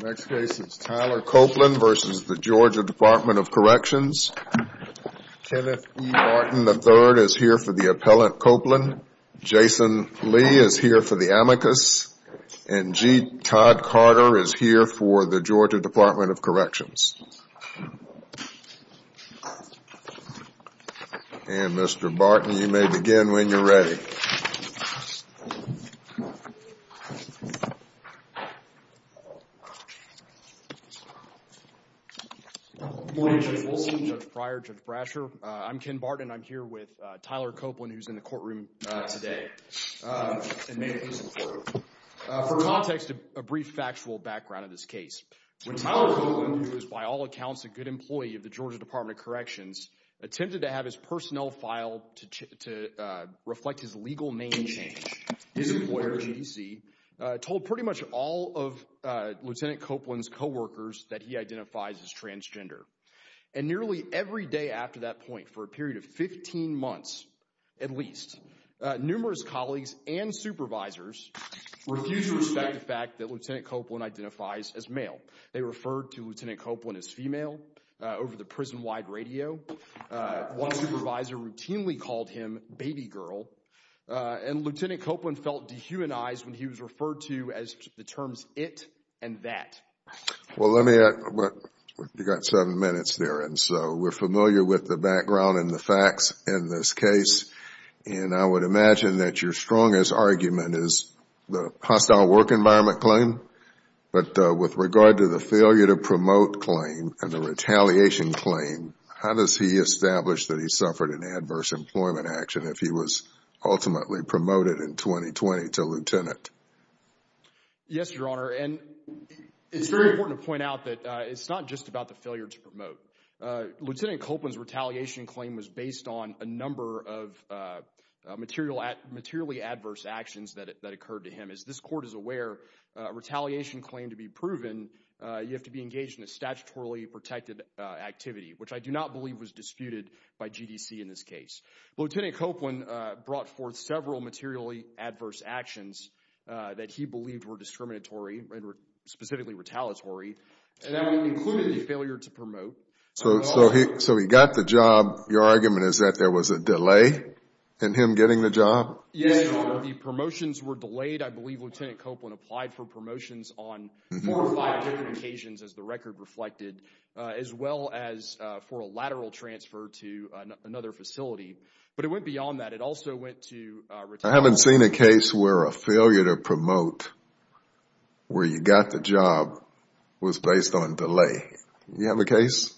Next case is Tyler Copeland v. Georgia Department of Corrections. Kenneth E. Martin III is here for the appellant Copeland. Jason Lee is here for the amicus. And G. Todd Carter is here for the Georgia Department of Corrections. And Mr. Barton, you may begin when you're ready. Good morning, Judge Wilson, Judge Fryer, Judge Brasher. I'm Ken Barton. I'm here with Tyler Copeland, who's in the courtroom today. For context, a brief factual background of this case. When Tyler Copeland, who is by all accounts a good employee of the Georgia Department of Corrections, attempted to have his personnel file to reflect his legal name change, his employer, GDC, told pretty much all of Lieutenant Copeland's co-workers that he identifies as transgender. And nearly every day after that point, for a period of 15 months at least, numerous colleagues and supervisors refused to respect the fact that Lieutenant Copeland identifies as male. They referred to Lieutenant Copeland as female over the prison-wide radio. One supervisor routinely called him baby girl. And Lieutenant Copeland felt dehumanized when he was referred to as the terms it and that. Well, let me add, you got seven minutes there. And so we're familiar with the background and the facts in this case. And I would imagine that your strongest argument is the hostile work environment claim. But with regard to the failure to promote claim and the retaliation claim, how does he establish that he suffered an adverse employment action if he was ultimately promoted in 2020 to lieutenant? Yes, Your Honor. And it's very important to point out that it's not just about the failure to promote. Lieutenant Copeland's retaliation claim was based on a number of materially adverse actions that occurred to him. As this court is aware, a retaliation claim to be proven, you have to be engaged in a statutorily protected activity, which I do not believe was disputed by GDC in this case. Lieutenant Copeland brought forth several materially adverse actions that he believed were discriminatory and specifically retaliatory. And that would include the failure to promote. So he got the job. Your argument is that there was a delay in him getting the job? Yes, Your Honor. The promotions were delayed. I believe Lieutenant Copeland applied for promotions on four or five different occasions, as the record reflected, as well as for a lateral transfer to another facility. But it went beyond that. It also went to retaliation. I haven't seen a case where a failure to promote, where you got the job, was based on delay. You have a case?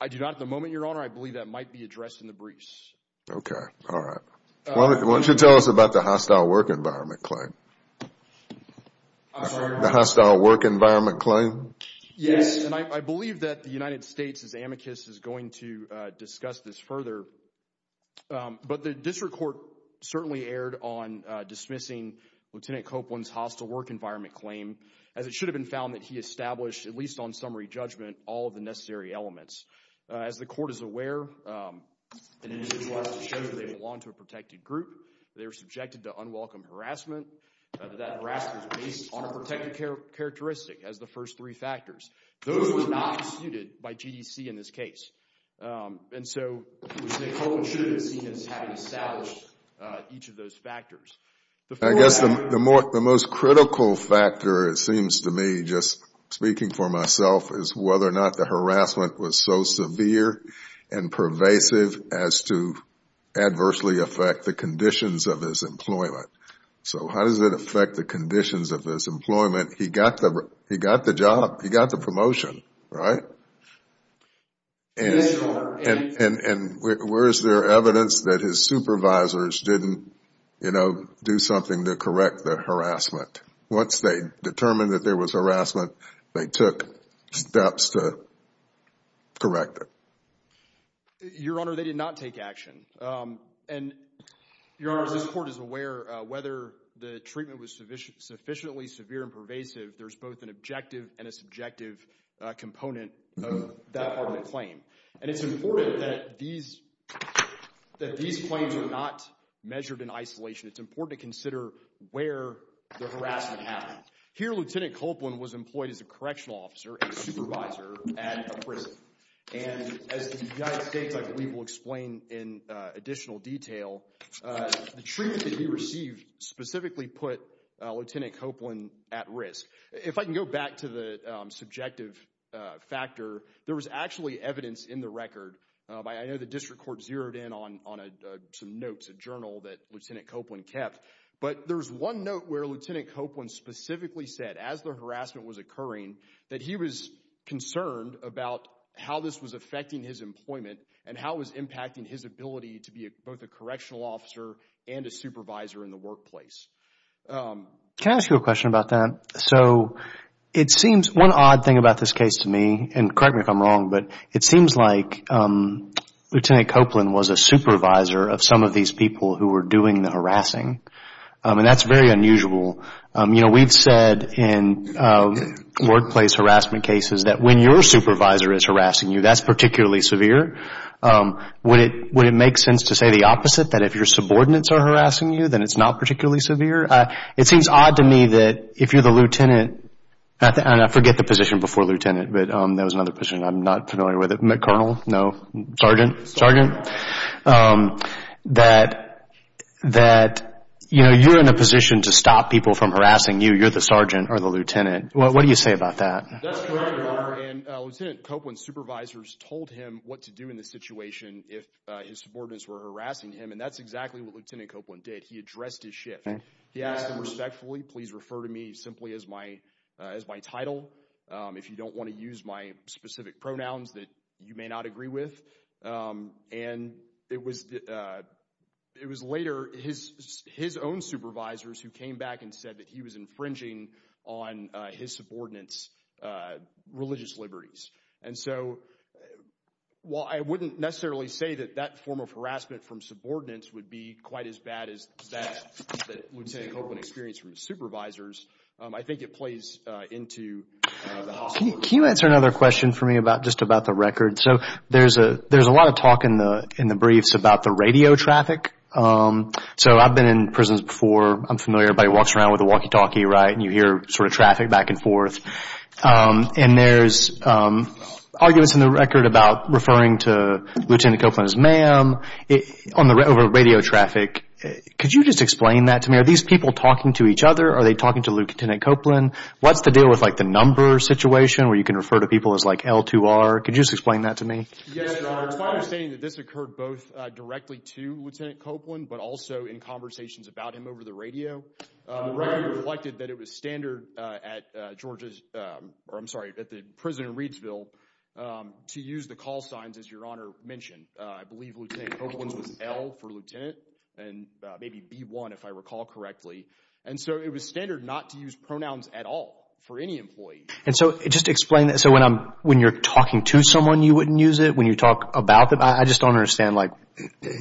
I do not at the moment, Your Honor. I believe that might be addressed in the briefs. Okay. All right. Why don't you tell us about the hostile work environment claim? I'm sorry? The hostile work environment claim? Yes. And I believe that the United States, as amicus, is going to discuss this further. But the district court certainly erred on dismissing Lieutenant Copeland's hostile work environment claim, as it should have been found that he established, at least on summary judgment, all of the necessary elements. As the court is aware, an individual has to show that they belong to a protected group. They are subjected to unwelcome harassment. That harassment is based on a protected characteristic, as the first three factors. Those were not instituted by GDC in this case. And so, Lieutenant Copeland should have been seen as having established each of those factors. I guess the most critical factor, it seems to me, just speaking for myself, is whether or not the harassment was so severe and pervasive as to adversely affect the conditions of his employment. So how does it affect the conditions of his employment? He got the job. He got the promotion, right? Yes, Your Honor. And where is there evidence that his supervisors didn't do something to correct the harassment? Once they determined that there was harassment, they took steps to correct it? Your Honor, they did not take action. And, Your Honor, as this court is aware, whether the treatment was sufficiently severe and pervasive, there's both an objective and a subjective component of that part of the claim. And it's important that these claims are not Here, Lieutenant Copeland was employed as a correctional officer and supervisor at a prison. And as the United States, I believe, will explain in additional detail, the treatment that he received specifically put Lieutenant Copeland at risk. If I can go back to the subjective factor, there was actually evidence in the record. I know the district court zeroed in on some notes, a journal that Lieutenant Copeland kept. But there's one note where Lieutenant Copeland specifically said, as the harassment was occurring, that he was concerned about how this was affecting his employment and how it was impacting his ability to be both a correctional officer and a supervisor in the workplace. Can I ask you a question about that? So, it seems, one odd thing about this case to me, and correct me if I'm wrong, but it seems like Lieutenant Copeland was a supervisor of some of these people who were doing the harassing. And that's very unusual. We've said in workplace harassment cases that when your supervisor is harassing you, that's particularly severe. Would it make sense to say the opposite, that if your subordinates are harassing you, then it's not particularly severe? It seems odd to me that if you're the lieutenant, and I forget the position before lieutenant, but there was that, that, you know, you're in a position to stop people from harassing you. You're the sergeant or the lieutenant. What do you say about that? That's correct, your honor. And Lieutenant Copeland's supervisors told him what to do in the situation if his subordinates were harassing him. And that's exactly what Lieutenant Copeland did. He addressed his shift. He asked him respectfully, please refer to me simply as my, as my title. If you don't want to use my title. It was later his, his own supervisors who came back and said that he was infringing on his subordinates' religious liberties. And so while I wouldn't necessarily say that that form of harassment from subordinates would be quite as bad as that that Lieutenant Copeland experienced from his supervisors, I think it plays into the hospital. Can you answer another question for me about, just about the record? So there's a, there's a lot of talk in the, in the briefs about the radio traffic. So I've been in prisons before. I'm familiar. Everybody walks around with a walkie talkie, right? And you hear sort of traffic back and forth. And there's arguments in the record about referring to Lieutenant Copeland as ma'am on the, over radio traffic. Could you just explain that to me? Are these people talking to each other? Are they talking to Lieutenant Copeland? What's the deal with like the number situation where you can refer to people as like L2R? Could you just explain that to me? Yes, your honor. It's my understanding that this occurred both directly to Lieutenant Copeland, but also in conversations about him over the radio. The record reflected that it was standard at Georgia's, or I'm sorry, at the prison in Reidsville to use the call signs as your honor mentioned. I believe Lieutenant Copeland's was L for Lieutenant and maybe B1 if I recall correctly. And so it was standard not to use pronouns at all for any employee. And so just explain that. So when I'm, when you're talking to someone, you wouldn't use it when you talk about them. I just don't understand like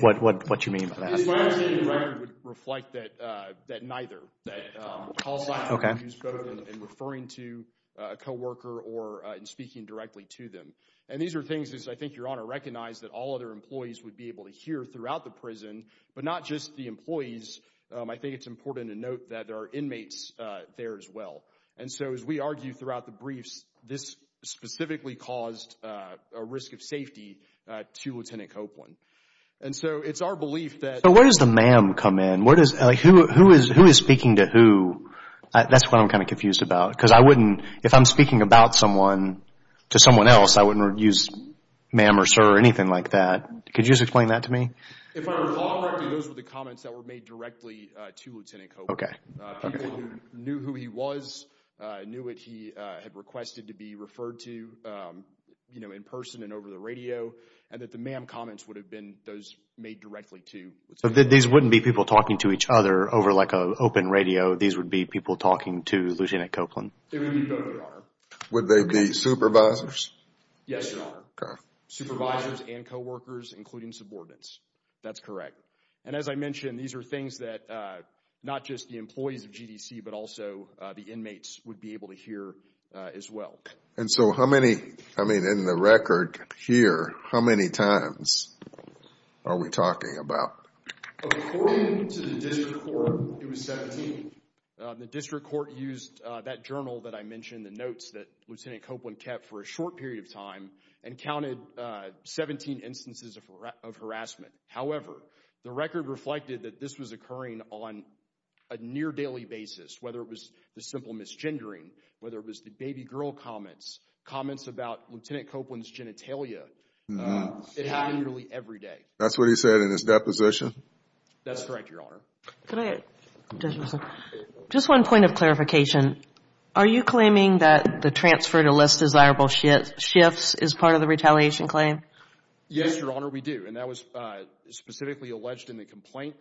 what, what, what you mean by that? It's my understanding the record would reflect that, that neither, that call signs were used both in referring to a co-worker or in speaking directly to them. And these are things, as I think your honor recognized, that all other employees would be able to hear throughout the prison, but not just the employees. I think it's important to note that there are inmates there as well. And so as we argue throughout the briefs, this specifically caused a risk of safety to Lieutenant Copeland. And so it's our belief that. So where does the ma'am come in? Where does, who, who is, who is speaking to who? That's what I'm kind of confused about. Because I wouldn't, if I'm speaking about someone to someone else, I wouldn't use ma'am or sir or anything like that. Could you just explain that to me? If I recall correctly, those were the comments that were made directly to Lieutenant Copeland. Okay. People who knew who he was, knew what he had requested to be referred to, you know, in person and over the radio. And that the ma'am comments would have been those made directly to. So these wouldn't be people talking to each other over like a open radio. These would be people talking to Lieutenant Copeland. They would be both, your honor. Would they be supervisors? Yes, your honor. Supervisors and co-workers, including subordinates. That's correct. And as I mentioned, these are things that not just the employees of GDC, but also the inmates would be able to hear as well. And so how many, I mean, in the record here, how many times are we talking about? According to the district court, it was 17. The district court used that journal that I mentioned, the notes that Lieutenant Copeland kept for a short period of time and counted 17 instances of harassment. However, the record reflected that this was occurring on a near daily basis. Whether it was the simple misgendering, whether it was the baby girl comments, comments about Lieutenant Copeland's genitalia, it happened nearly every day. That's what he said in his deposition? That's correct, your honor. Just one point of clarification. Are you claiming that the transfer to less desirable shifts is part of the retaliation claim? Yes, your honor, we do. And that was specifically alleged in the complaint.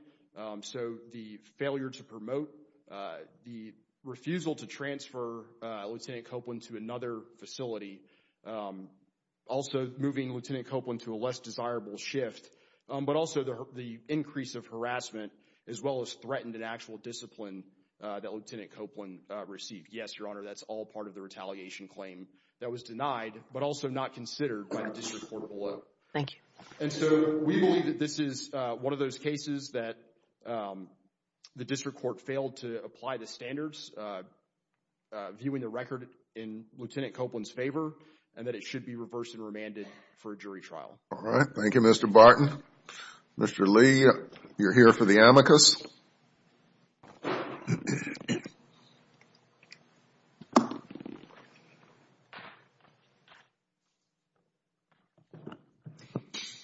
So the failure to promote, the refusal to transfer Lieutenant Copeland to another facility, also moving Lieutenant Copeland to a less desirable shift, but also the increase of harassment as well as threatened and actual discipline that Lieutenant Copeland received. Yes, your honor, that's all part of the retaliation claim that was denied, but also not considered by the district court below. Thank you. And so we believe that this is one of those cases that the district court failed to apply the standards, viewing the record in Lieutenant Copeland's favor, and that it should be reversed and remanded for a jury trial. All right. Thank you, Mr. Barton. Mr. Lee, you're here for the amicus.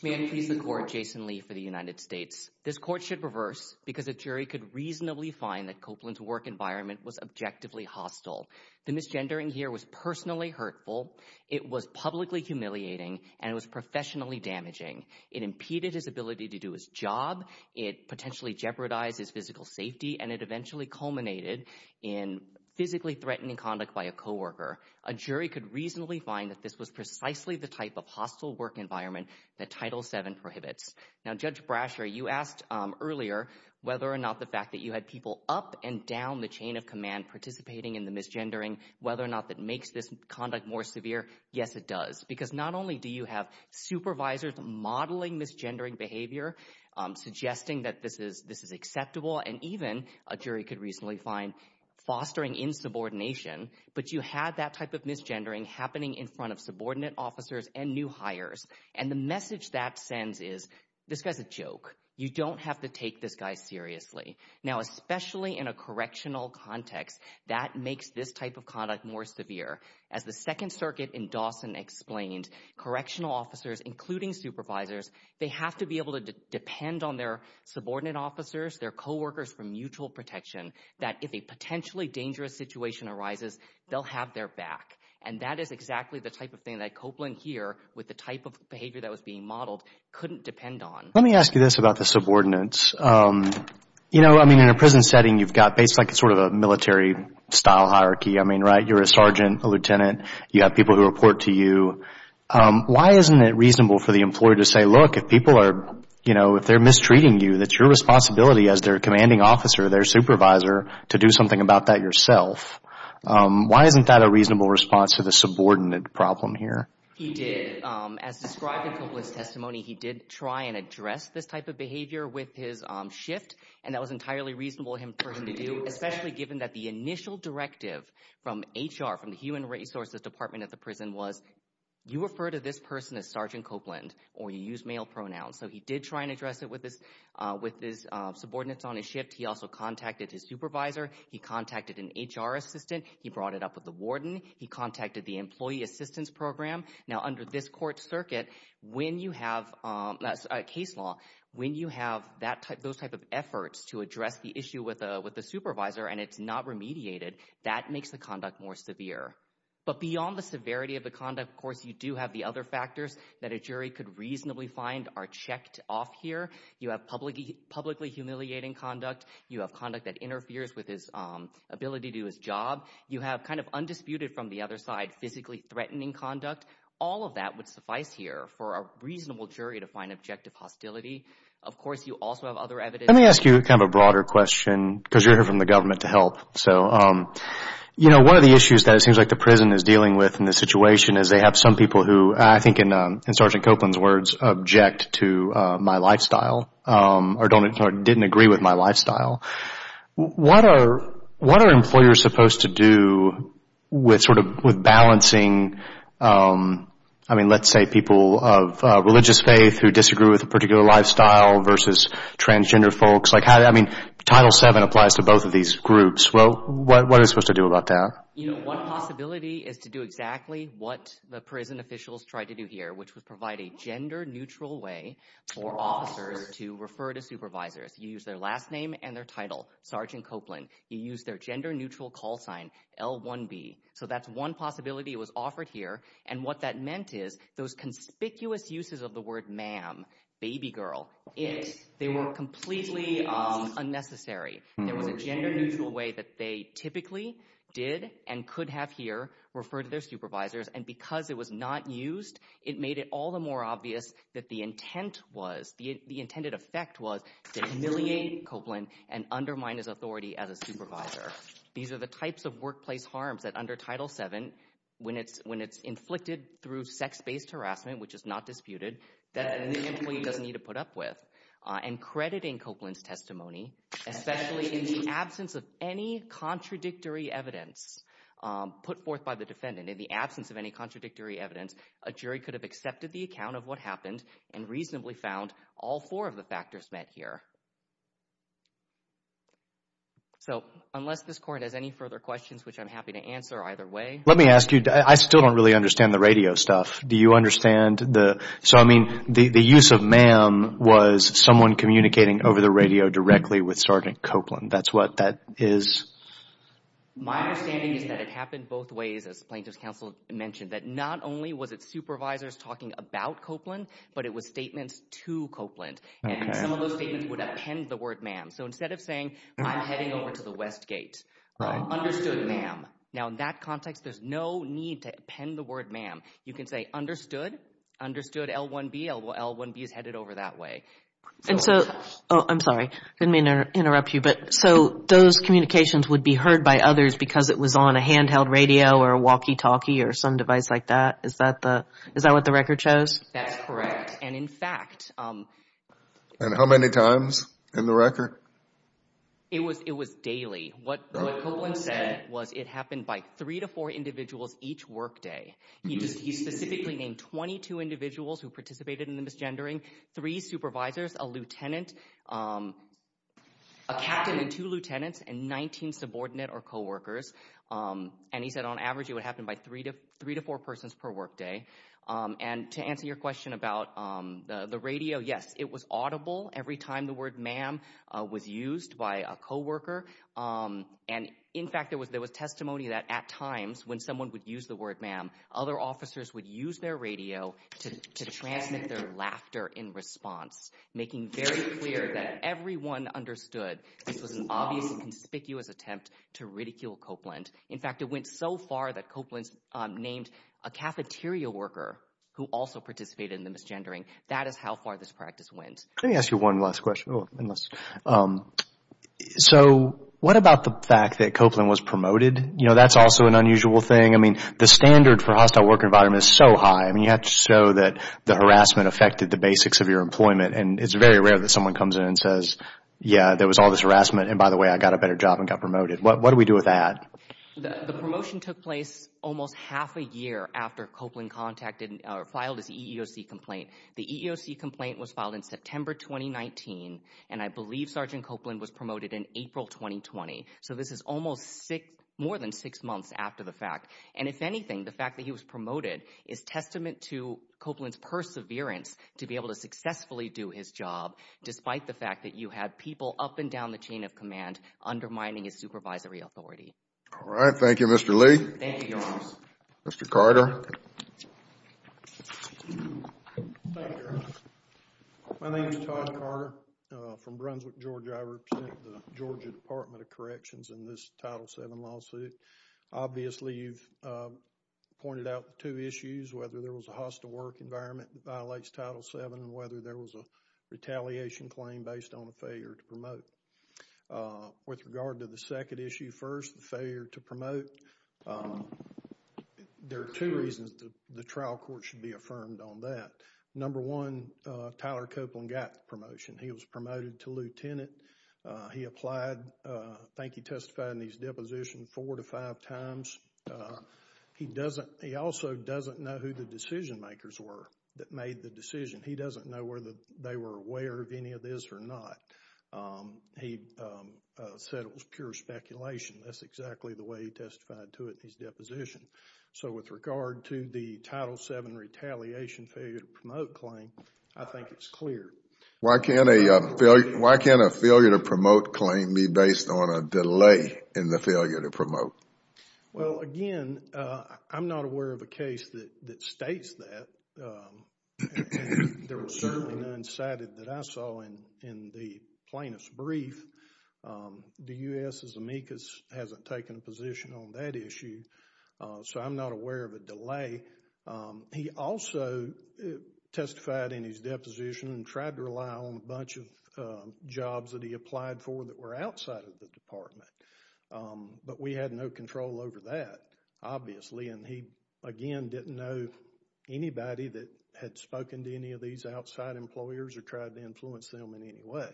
May I please the court, Jason Lee for the United States. This court should reverse because a jury could reasonably find that Copeland's work environment was objectively hostile. The misgendering here was personally hurtful, it was publicly humiliating, and it was professionally damaging. It impeded his ability to do his job, it potentially jeopardized his physical safety, and it eventually culminated in physically threatening conduct by a co-worker. A jury could reasonably find that this was precisely the type of hostile work environment that Title VII prohibits. Now, Judge Brasher, you asked earlier whether or not the fact that you had people up and down the chain of command participating in the misgendering, whether or not that makes this conduct more severe. Yes, it does. Because not only do you have supervisors modeling misgendering behavior, suggesting that this is acceptable, and even a jury could reasonably find fostering insubordination, but you had that type of misgendering happening in front of subordinate officers and new hires. And the message that sends is, this guy's a joke. You don't have to take this guy seriously. Now, especially in a correctional context, that makes this type of conduct more severe. As the Second Circuit in Dawson explained, correctional officers, including supervisors, they have to be able to depend on their subordinate officers, their co-workers for mutual protection, that if a potentially dangerous situation arises, they'll have their back. And that is exactly the type of thing that Copeland here, with the type of behavior that was being modeled, couldn't depend on. Let me ask you this about the subordinates. You know, I mean, in a prison setting, you've got basically sort of a military style hierarchy. I mean, right, you're a sergeant, a lieutenant, you have people who report to you. Why isn't it reasonable for the employer to say, look, if people are, you know, if they're mistreating you, it's your responsibility as their commanding officer, their supervisor, to do something about that yourself. Why isn't that a reasonable response to the subordinate problem here? He did. As described in Copeland's testimony, he did try and address this type of behavior with his shift, and that was entirely reasonable for him to do, especially given that initial directive from HR, from the Human Resources Department at the prison, was, you refer to this person as Sergeant Copeland, or you use male pronouns. So he did try and address it with his subordinates on his shift. He also contacted his supervisor. He contacted an HR assistant. He brought it up with the warden. He contacted the employee assistance program. Now, under this court circuit, when you have a case law, when you have those type of efforts to address the issue with the supervisor and it's not remediated, that makes the conduct more severe. But beyond the severity of the conduct, of course, you do have the other factors that a jury could reasonably find are checked off here. You have publicly humiliating conduct. You have conduct that interferes with his ability to do his job. You have kind of undisputed from the other side, physically threatening conduct. All of that would suffice here for a reasonable jury to find objective hostility. Of course, you also have other evidence. Let me ask you kind of a broader question because you're here from the government to help. So, you know, one of the issues that it seems like the prison is dealing with in this situation is they have some people who, I think in Sergeant Copeland's words, object to my lifestyle or didn't agree with my lifestyle. What are employers supposed to do with balancing, I mean, let's say people of religious faith who disagree with a particular lifestyle versus transgender folks? I mean, Title VII applies to both of these groups. Well, what are they supposed to do about that? You know, one possibility is to do exactly what the prison officials tried to do here, which was provide a gender neutral way for officers to refer to supervisors. You use their last name and their title, Sergeant Copeland. You use their gender neutral call sign, L1B. So that's one possibility was offered here. And what that meant is those conspicuous uses of the word ma'am, baby girl, it, they were completely unnecessary. There was a gender neutral way that they typically did and could have here referred to their supervisors. And because it was not used, it made it all the more obvious that the intent was, the intended effect was to humiliate Copeland and undermine his authority as a supervisor. These are the types of workplace harms that under Title VII, when it's inflicted through sex-based harassment, which is not disputed, that the employee doesn't need to put up with. And crediting Copeland's testimony, especially in the absence of any contradictory evidence put forth by the defendant, in the absence of any contradictory evidence, a jury could have accepted the account of what happened and reasonably found all four of the factors met here. So unless this court has any further questions, which I'm happy to answer either way. Let me ask you, I still don't really understand the radio stuff. Do you understand the, so I mean, the use of ma'am was someone communicating over the radio directly with Sergeant Copeland. That's what that is. My understanding is that it happened both ways, as plaintiff's counsel mentioned, that not only was it supervisors talking about Copeland, but it was statements to Copeland. And some of those statements would So instead of saying, I'm heading over to the Westgate, understood ma'am. Now in that context, there's no need to append the word ma'am. You can say understood, understood L1B. L1B is headed over that way. And so, oh, I'm sorry, didn't mean to interrupt you, but so those communications would be heard by others because it was on a handheld radio or a walkie-talkie or some device like that? Is that the, is that what the record shows? That's correct. And in fact. And how many times in the record? It was, it was daily. What Copeland said was it happened by three to four individuals each workday. He just, he specifically named 22 individuals who participated in the misgendering, three supervisors, a lieutenant, a captain and two lieutenants and 19 subordinate or coworkers. And he said on average, it would happen by three to three to four persons per workday. And to answer your question about the radio, yes, it was audible every time the word ma'am was used by a coworker. And in fact, there was, there was testimony that at times when someone would use the word ma'am, other officers would use their radio to transmit their laughter in response, making very clear that everyone understood this was an obvious conspicuous attempt to ridicule Copeland. In fact, it went so far that Copeland's named a cafeteria worker who also participated in the misgendering. That is how far this practice went. Let me ask you one last question. So what about the fact that Copeland was promoted? You know, that's also an unusual thing. I mean, the standard for hostile work environment is so high. I mean, you have to show that the harassment affected the basics of your employment. And it's very rare that someone comes in and says, yeah, there was all this harassment. And by the way, I got a better job and got promoted. What do we do with that? The promotion took place almost half a year after Copeland contacted or filed his EEOC complaint. The EEOC complaint was filed in September 2019. And I believe Sergeant Copeland was promoted in April 2020. So this is almost six, more than six months after the fact. And if anything, the fact that he was promoted is testament to Copeland's perseverance to be able to successfully do his job, despite the fact that you had people up and undermining his supervisory authority. All right. Thank you, Mr. Lee. Mr. Carter. My name is Todd Carter from Brunswick, Georgia. I represent the Georgia Department of Corrections in this Title VII lawsuit. Obviously, you've pointed out two issues, whether there was a hostile work environment that violates Title VII and whether there was a retaliation claim based on a failure to promote. With regard to the second issue first, the failure to promote, there are two reasons the trial court should be affirmed on that. Number one, Tyler Copeland got the promotion. He was promoted to lieutenant. He applied. I think he testified in his deposition four to five times. He also doesn't know who the decision makers were that made the decision. He doesn't know whether they were aware of any of this or not. He said it was pure speculation. That's exactly the way he testified to it in his deposition. So with regard to the Title VII retaliation failure to promote claim, I think it's clear. Why can't a failure to promote claim be based on a delay in the failure to promote? Well, again, I'm not aware of a case that states that. There was certainly none cited that I saw in the plaintiff's brief. The U.S.'s amicus hasn't taken a position on that issue, so I'm not aware of a delay. He also testified in his deposition and tried to rely on a bunch of jobs that he applied for that were outside of the department, but we had no control over that, obviously. He, again, didn't know anybody that had spoken to any of these outside employers or tried to influence them in any way.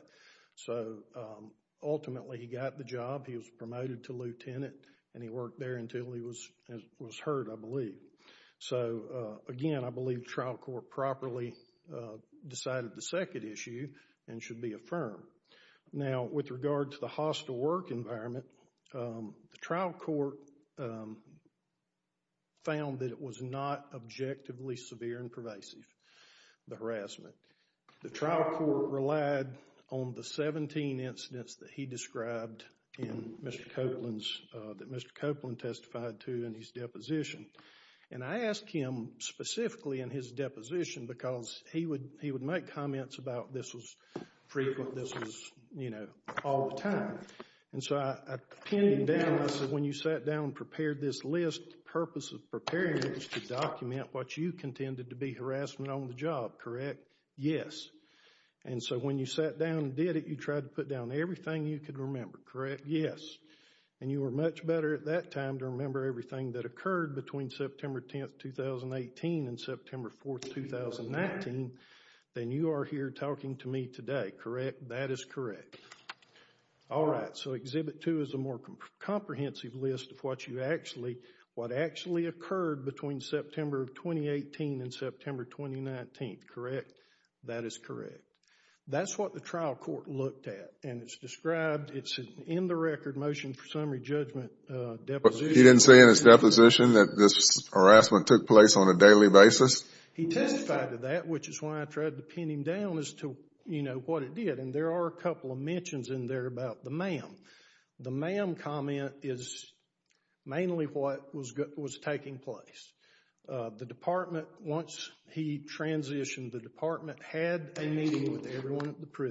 So, ultimately, he got the job. He was promoted to lieutenant and he worked there until he was heard, I believe. So, again, I believe trial court properly decided the second issue and should be affirmed. Now, with regard to the hostile work environment, the trial court found that it was not objectively severe and pervasive, the harassment. The trial court relied on the 17 incidents that he described in Mr. Copeland's, that Mr. Copeland testified to in his deposition, and I asked him specifically in his deposition because he would make comments about this was frequent, this was, you know, all the time. And so, I pinned down, I said, when you sat down and prepared this list, the purpose of preparing it was to document what you contended to be harassment on the job, correct? Yes. And so, when you sat down and did it, you tried to put down everything you could remember, correct? Yes. And you were much better at that time to remember everything that occurred between September 10, 2018 and September 4, 2019 than you are here talking to me today, correct? That is correct. All right. So, exhibit two is a more comprehensive list of what you actually, what actually occurred between September of 2018 and September 2019, correct? That is correct. That's what the trial court looked at and it's described, it's in the record motion for summary deposition. He didn't say in his deposition that this harassment took place on a daily basis? He testified to that, which is why I tried to pin him down as to, you know, what it did. And there are a couple of mentions in there about the ma'am. The ma'am comment is mainly what was taking place. The department, once he transitioned, the department had a meeting with everyone at the firm.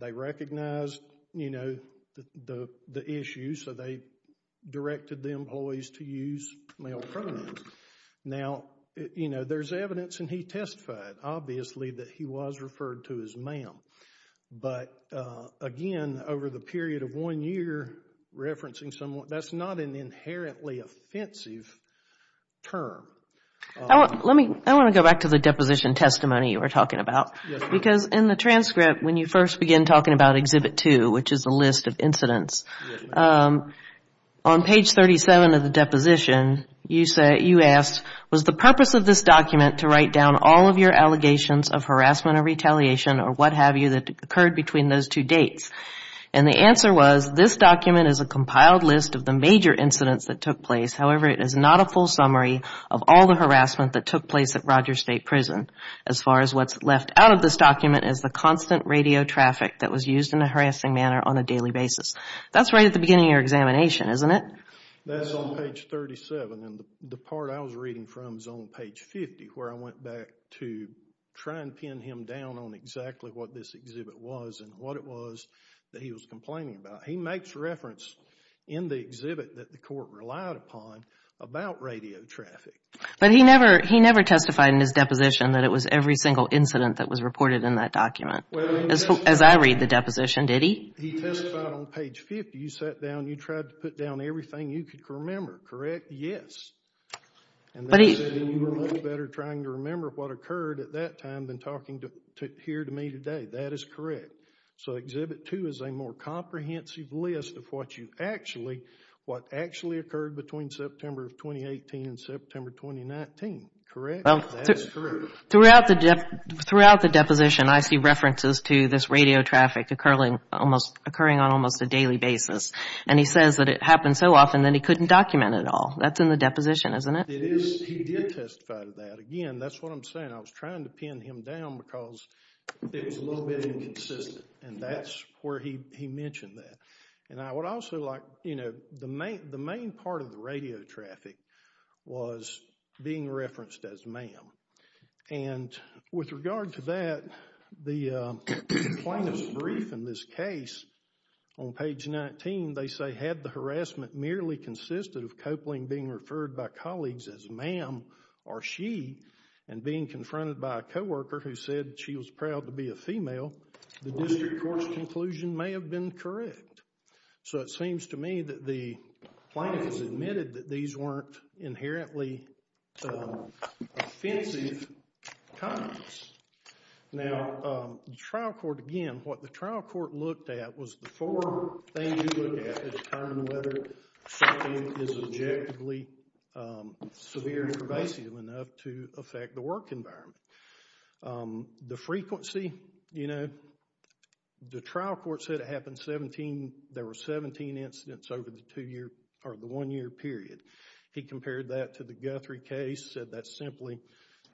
They recognized, you know, the issue, so they directed the employees to use male pronouns. Now, you know, there's evidence and he testified, obviously, that he was referred to as ma'am. But, again, over the period of one year, referencing someone, that's not an inherently offensive term. Let me, I want to go back to the deposition testimony you were talking about. Because in the transcript, when you first begin talking about Exhibit 2, which is a list of incidents, on page 37 of the deposition, you say, you asked, was the purpose of this document to write down all of your allegations of harassment or retaliation or what have you that occurred between those two dates? And the answer was, this document is a compiled list of the major incidents that took place. However, it is not a full summary of all the harassment that took out of this document is the constant radio traffic that was used in a harassing manner on a daily basis. That's right at the beginning of your examination, isn't it? That's on page 37. And the part I was reading from is on page 50, where I went back to try and pin him down on exactly what this exhibit was and what it was that he was complaining about. He makes reference in the exhibit that the court relied upon about radio traffic. But he never testified in his deposition that it was every single incident that was reported in that document. As I read the deposition, did he? He testified on page 50. You sat down and you tried to put down everything you could remember, correct? Yes. And you said you were a little better trying to remember what occurred at that time than talking here to me today. That is correct. So Exhibit 2 is a more comprehensive list of what actually occurred between September of 2018 and September 2019. Correct? That is correct. Throughout the deposition, I see references to this radio traffic occurring on almost a daily basis. And he says that it happened so often that he couldn't document it all. That's in the deposition, isn't it? It is. He did testify to that. Again, that's what I'm saying. I was trying to pin him down because it was a little bit inconsistent. And that's where he mentioned that. The main part of the radio traffic was being referenced as ma'am. And with regard to that, the plaintiff's brief in this case on page 19, they say, had the harassment merely consisted of Copeland being referred by colleagues as ma'am or she and being confronted by a co-worker who said she was proud to be a female, the district court's conclusion may have been correct. So it seems to me that the plaintiff has admitted that these weren't inherently offensive comments. Now, the trial court, again, what the trial court looked at was the four things you look at at the time and whether something is objectively severe and pervasive enough to the frequency. The trial court said it happened 17, there were 17 incidents over the one-year period. He compared that to the Guthrie case, said that simply.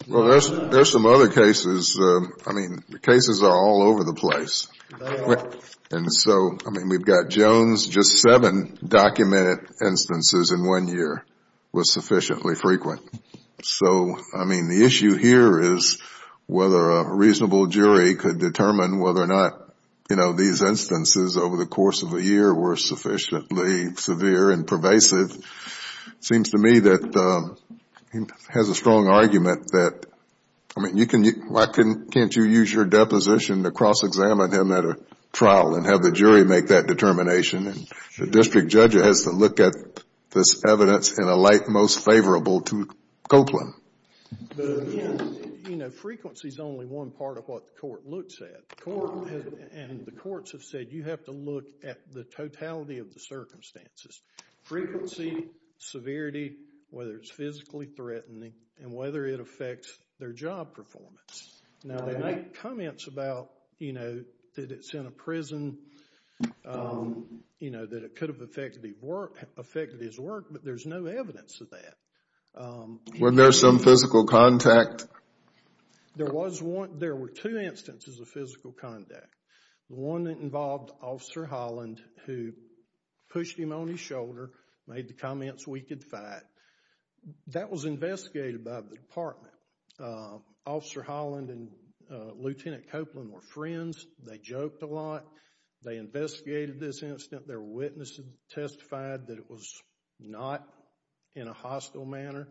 Well, there's some other cases. I mean, the cases are all over the place. And so, I mean, we've got Jones, just seven documented instances in one year were sufficiently frequent. So, I mean, the issue here is whether a reasonable jury could determine whether or not, you know, these instances over the course of a year were sufficiently severe and pervasive. It seems to me that he has a strong argument that, I mean, you can, why can't you use your deposition to cross-examine him at a trial and have the jury make that in a light most favorable to Copeland? But again, you know, frequency is only one part of what the court looks at. And the courts have said you have to look at the totality of the circumstances. Frequency, severity, whether it's physically threatening, and whether it affects their job performance. Now, they make comments about, you know, that it's in a prison, you know, that it could have affected his work, but there's no evidence of that. Were there some physical contact? There was one. There were two instances of physical contact. One that involved Officer Holland, who pushed him on his shoulder, made the comments, we could fight. That was investigated by the department. Officer Holland and Lieutenant Copeland were friends. They joked a lot. They investigated this incident. There were witnesses that testified that it was not in a hostile manner.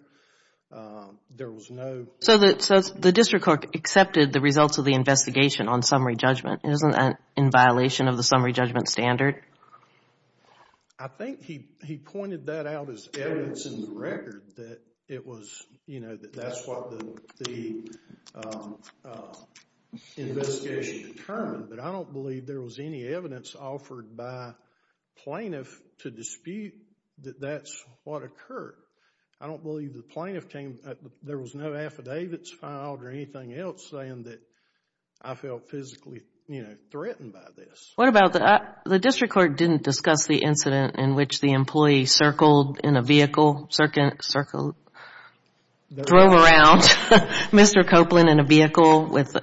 There was no... So the district court accepted the results of the investigation on summary judgment. Isn't that in violation of the summary judgment standard? I think he pointed that out as evidence in the record, that it was, you know, that that's what the investigation determined. But I don't believe there was any evidence offered by plaintiff to dispute that that's what occurred. I don't believe the plaintiff came, there was no affidavits filed or anything else saying that I felt physically, you know, threatened by this. What about the... The district court didn't discuss the incident in which the employee circled in a vehicle, circled, drove around Mr. Copeland in a vehicle with,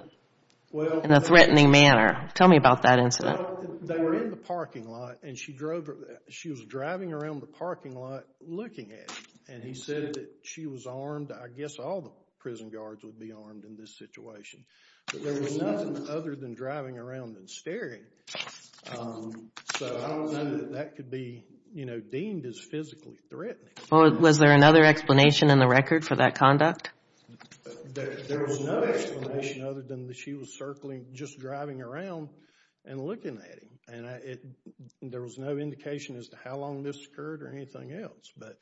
in a threatening manner. Tell me about that incident. They were in the parking lot and she drove, she was driving around the parking lot looking at him and he said that she was armed. I guess all the prison guards would be armed in this situation. But there was nothing other than driving around and staring. So I don't know that that could be, you know, deemed as physically threatening. Was there another explanation in the record for that conduct? There was no explanation other than that she was circling, just driving around and looking at him. And there was no indication as to how long this occurred or anything else. But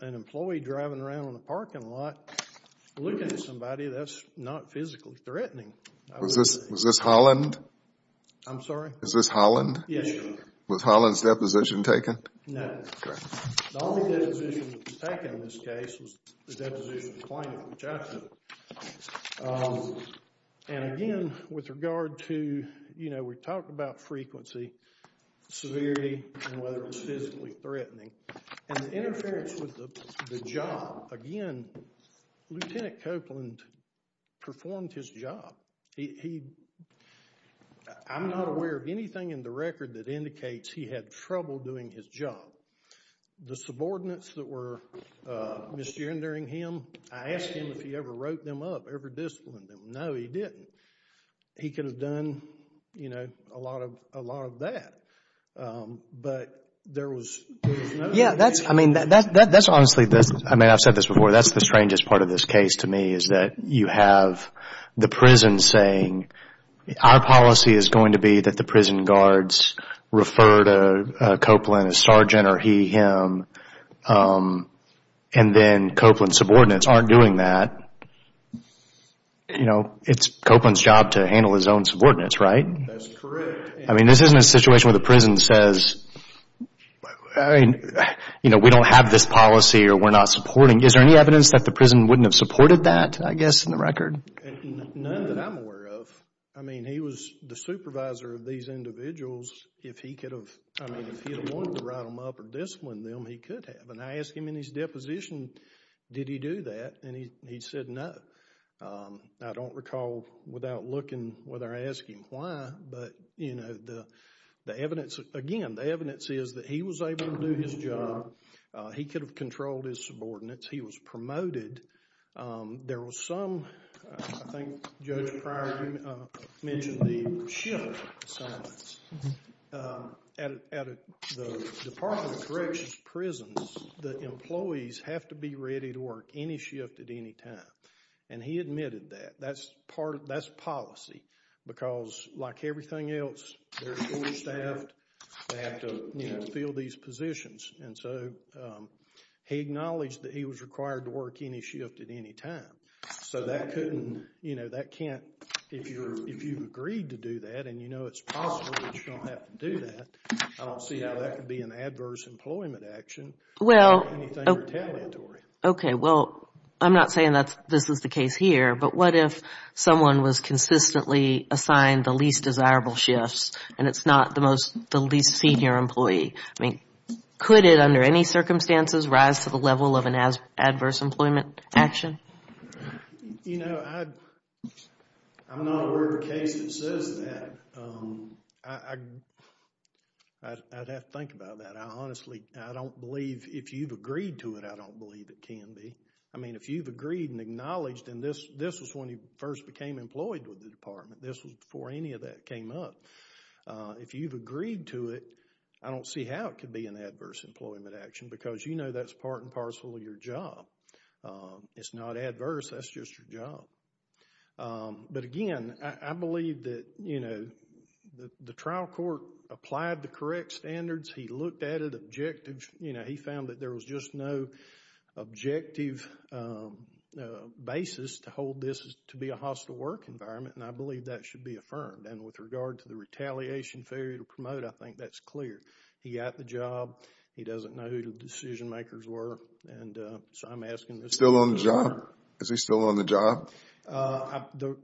an employee driving around in the parking lot looking at somebody, that's not physically threatening. Was this Holland? I'm sorry? Is this Holland? Yes, Your Honor. Was Holland's deposition taken? No. The only deposition that was taken in this case was the deposition of the plaintiff, which I took. And again, with regard to, you know, we talk about frequency, severity, and whether it was physically threatening. And the interference with the job, again, Lieutenant Copeland performed his job. I'm not aware of anything in the record that indicates he had trouble doing his job. The subordinates that were misgendering him, I asked him if he ever wrote them up, ever disciplined them. No, he didn't. He could have done, you know, a lot of that. But there was no... Yeah, that's, I mean, that's honestly, I mean, I've said this before. That's the strangest part of this case to me is that you have the prison saying, our policy is going to be that the prison guards refer to Copeland as Sergeant or he, him. And then Copeland's subordinates aren't doing that. You know, it's Copeland's job to handle his own subordinates, right? That's correct. I mean, this isn't a situation where the prison says, I mean, you know, we don't have this policy or we're not supporting. Is there any evidence that the prison wouldn't have supported that, I guess, in the record? None that I'm aware of. I mean, he was the supervisor of these individuals. If he could have, I mean, if he had wanted to write them up or discipline them, he could have. And I asked him in his deposition, did he do that? And he said no. I don't recall without looking whether I asked him why, but, you know, the evidence, again, the evidence is that he was able to do his job. He could have controlled his subordinates. He was promoted. There was some, I think Judge Pryor mentioned the shift in assignments. At the Department of Corrections prisons, the employees have to be ready to work any shift at any time. And he admitted that. That's part, that's policy. Because like everything else, they're full staffed. They have to, you know, fill these positions. And so he acknowledged that he was required to work any shift at any time. So that couldn't, you know, that can't, if you're, if you've agreed to do that, and you know it's possible that you don't have to do that, I don't see how that could be an adverse employment action or anything retaliatory. Well, okay, well, I'm not saying that this is the case here, but what if someone was consistently assigned the least desirable shifts and it's not the most, the least senior employee? I mean, could it, under any circumstances, rise to the level of employment action? You know, I'm not aware of a case that says that. I'd have to think about that. I honestly, I don't believe, if you've agreed to it, I don't believe it can be. I mean, if you've agreed and acknowledged, and this was when he first became employed with the department. This was before any of that came up. If you've agreed to it, I don't see how it could be an adverse employment action, because you know that's part and parcel of your job. It's not adverse. That's just your job. But again, I believe that, you know, the trial court applied the correct standards. He looked at it objectively. You know, he found that there was just no objective basis to hold this to be a hostile work environment, and I believe that should be affirmed. And with regard to the decision makers were, and so I'm asking this. Still on the job? Is he still on the job? The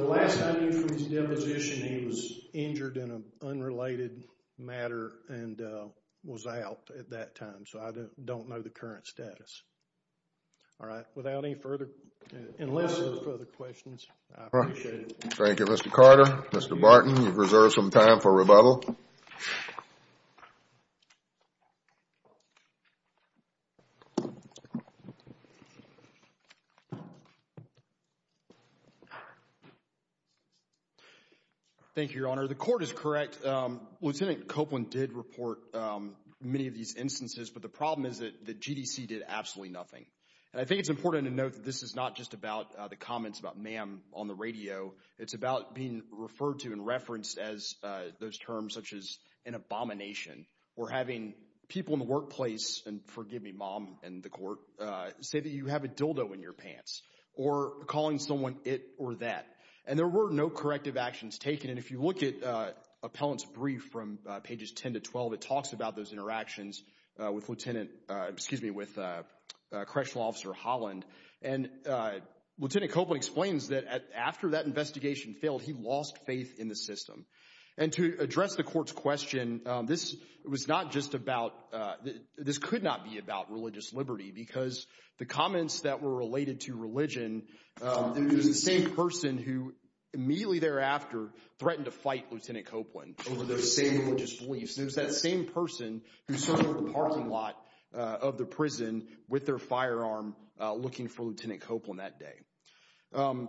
last time he was depositioned, he was injured in an unrelated matter and was out at that time, so I don't know the current status. All right, without any further, unless there's further questions, I appreciate it. Thank you, Mr. Carter. Mr. Barton, you've reserved some time for rebuttal. Thank you, Your Honor. The court is correct. Lieutenant Copeland did report many of these instances, but the problem is that the GDC did absolutely nothing, and I think it's important to note that this is not just about the comments about ma'am on the radio. It's about being referred to and referenced as those terms such as an abomination, or having people in the workplace, and forgive me, mom and the court, say that you have a dildo in your pants, or calling someone it or that. And there were no corrective actions taken, and if you look at appellant's brief from pages 10 to 12, it talks about those interactions with Lieutenant, excuse me, with Correctional Officer Holland, and Lieutenant Copeland explains that after that investigation failed, he lost faith in the system. And to address the court's question, this was not just about, this could not be about religious liberty, because the comments that were related to religion, it was the same person who immediately thereafter threatened to fight Lieutenant Copeland over those same religious beliefs. It was that same person who served in the parking lot of the prison with their firearm looking for Lieutenant Copeland that day.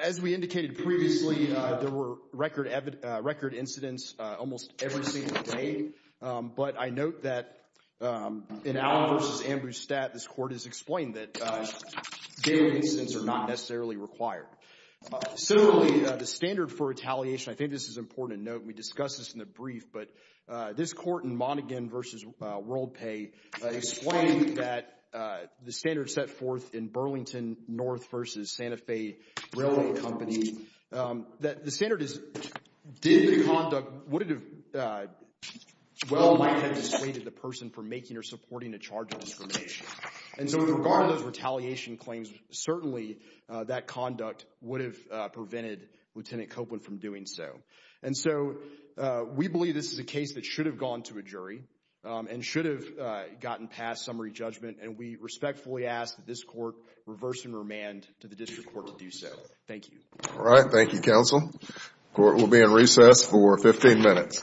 As we indicated previously, there were record incidents almost every single day, but I note that in Allen v. Ambrose Statt, this court has explained that daily incidents are not necessarily required. Similarly, the standard for retaliation, I think this is important to note, we discussed this in the brief, but this court in Monaghan v. Worldpay explained that the standard set forth in Burlington North v. Santa Fe Railway Company, that the standard is, did the conduct, would it have, well might have dissuaded the person from making or supporting a charge of discrimination. And so with regard to those retaliation claims, certainly that conduct would have prevented Lieutenant Copeland from doing so. And so we this is a case that should have gone to a jury and should have gotten past summary judgment, and we respectfully ask that this court reverse and remand to the district court to do so. Thank you. All right. Thank you, counsel. Court will be in recess for 15 minutes.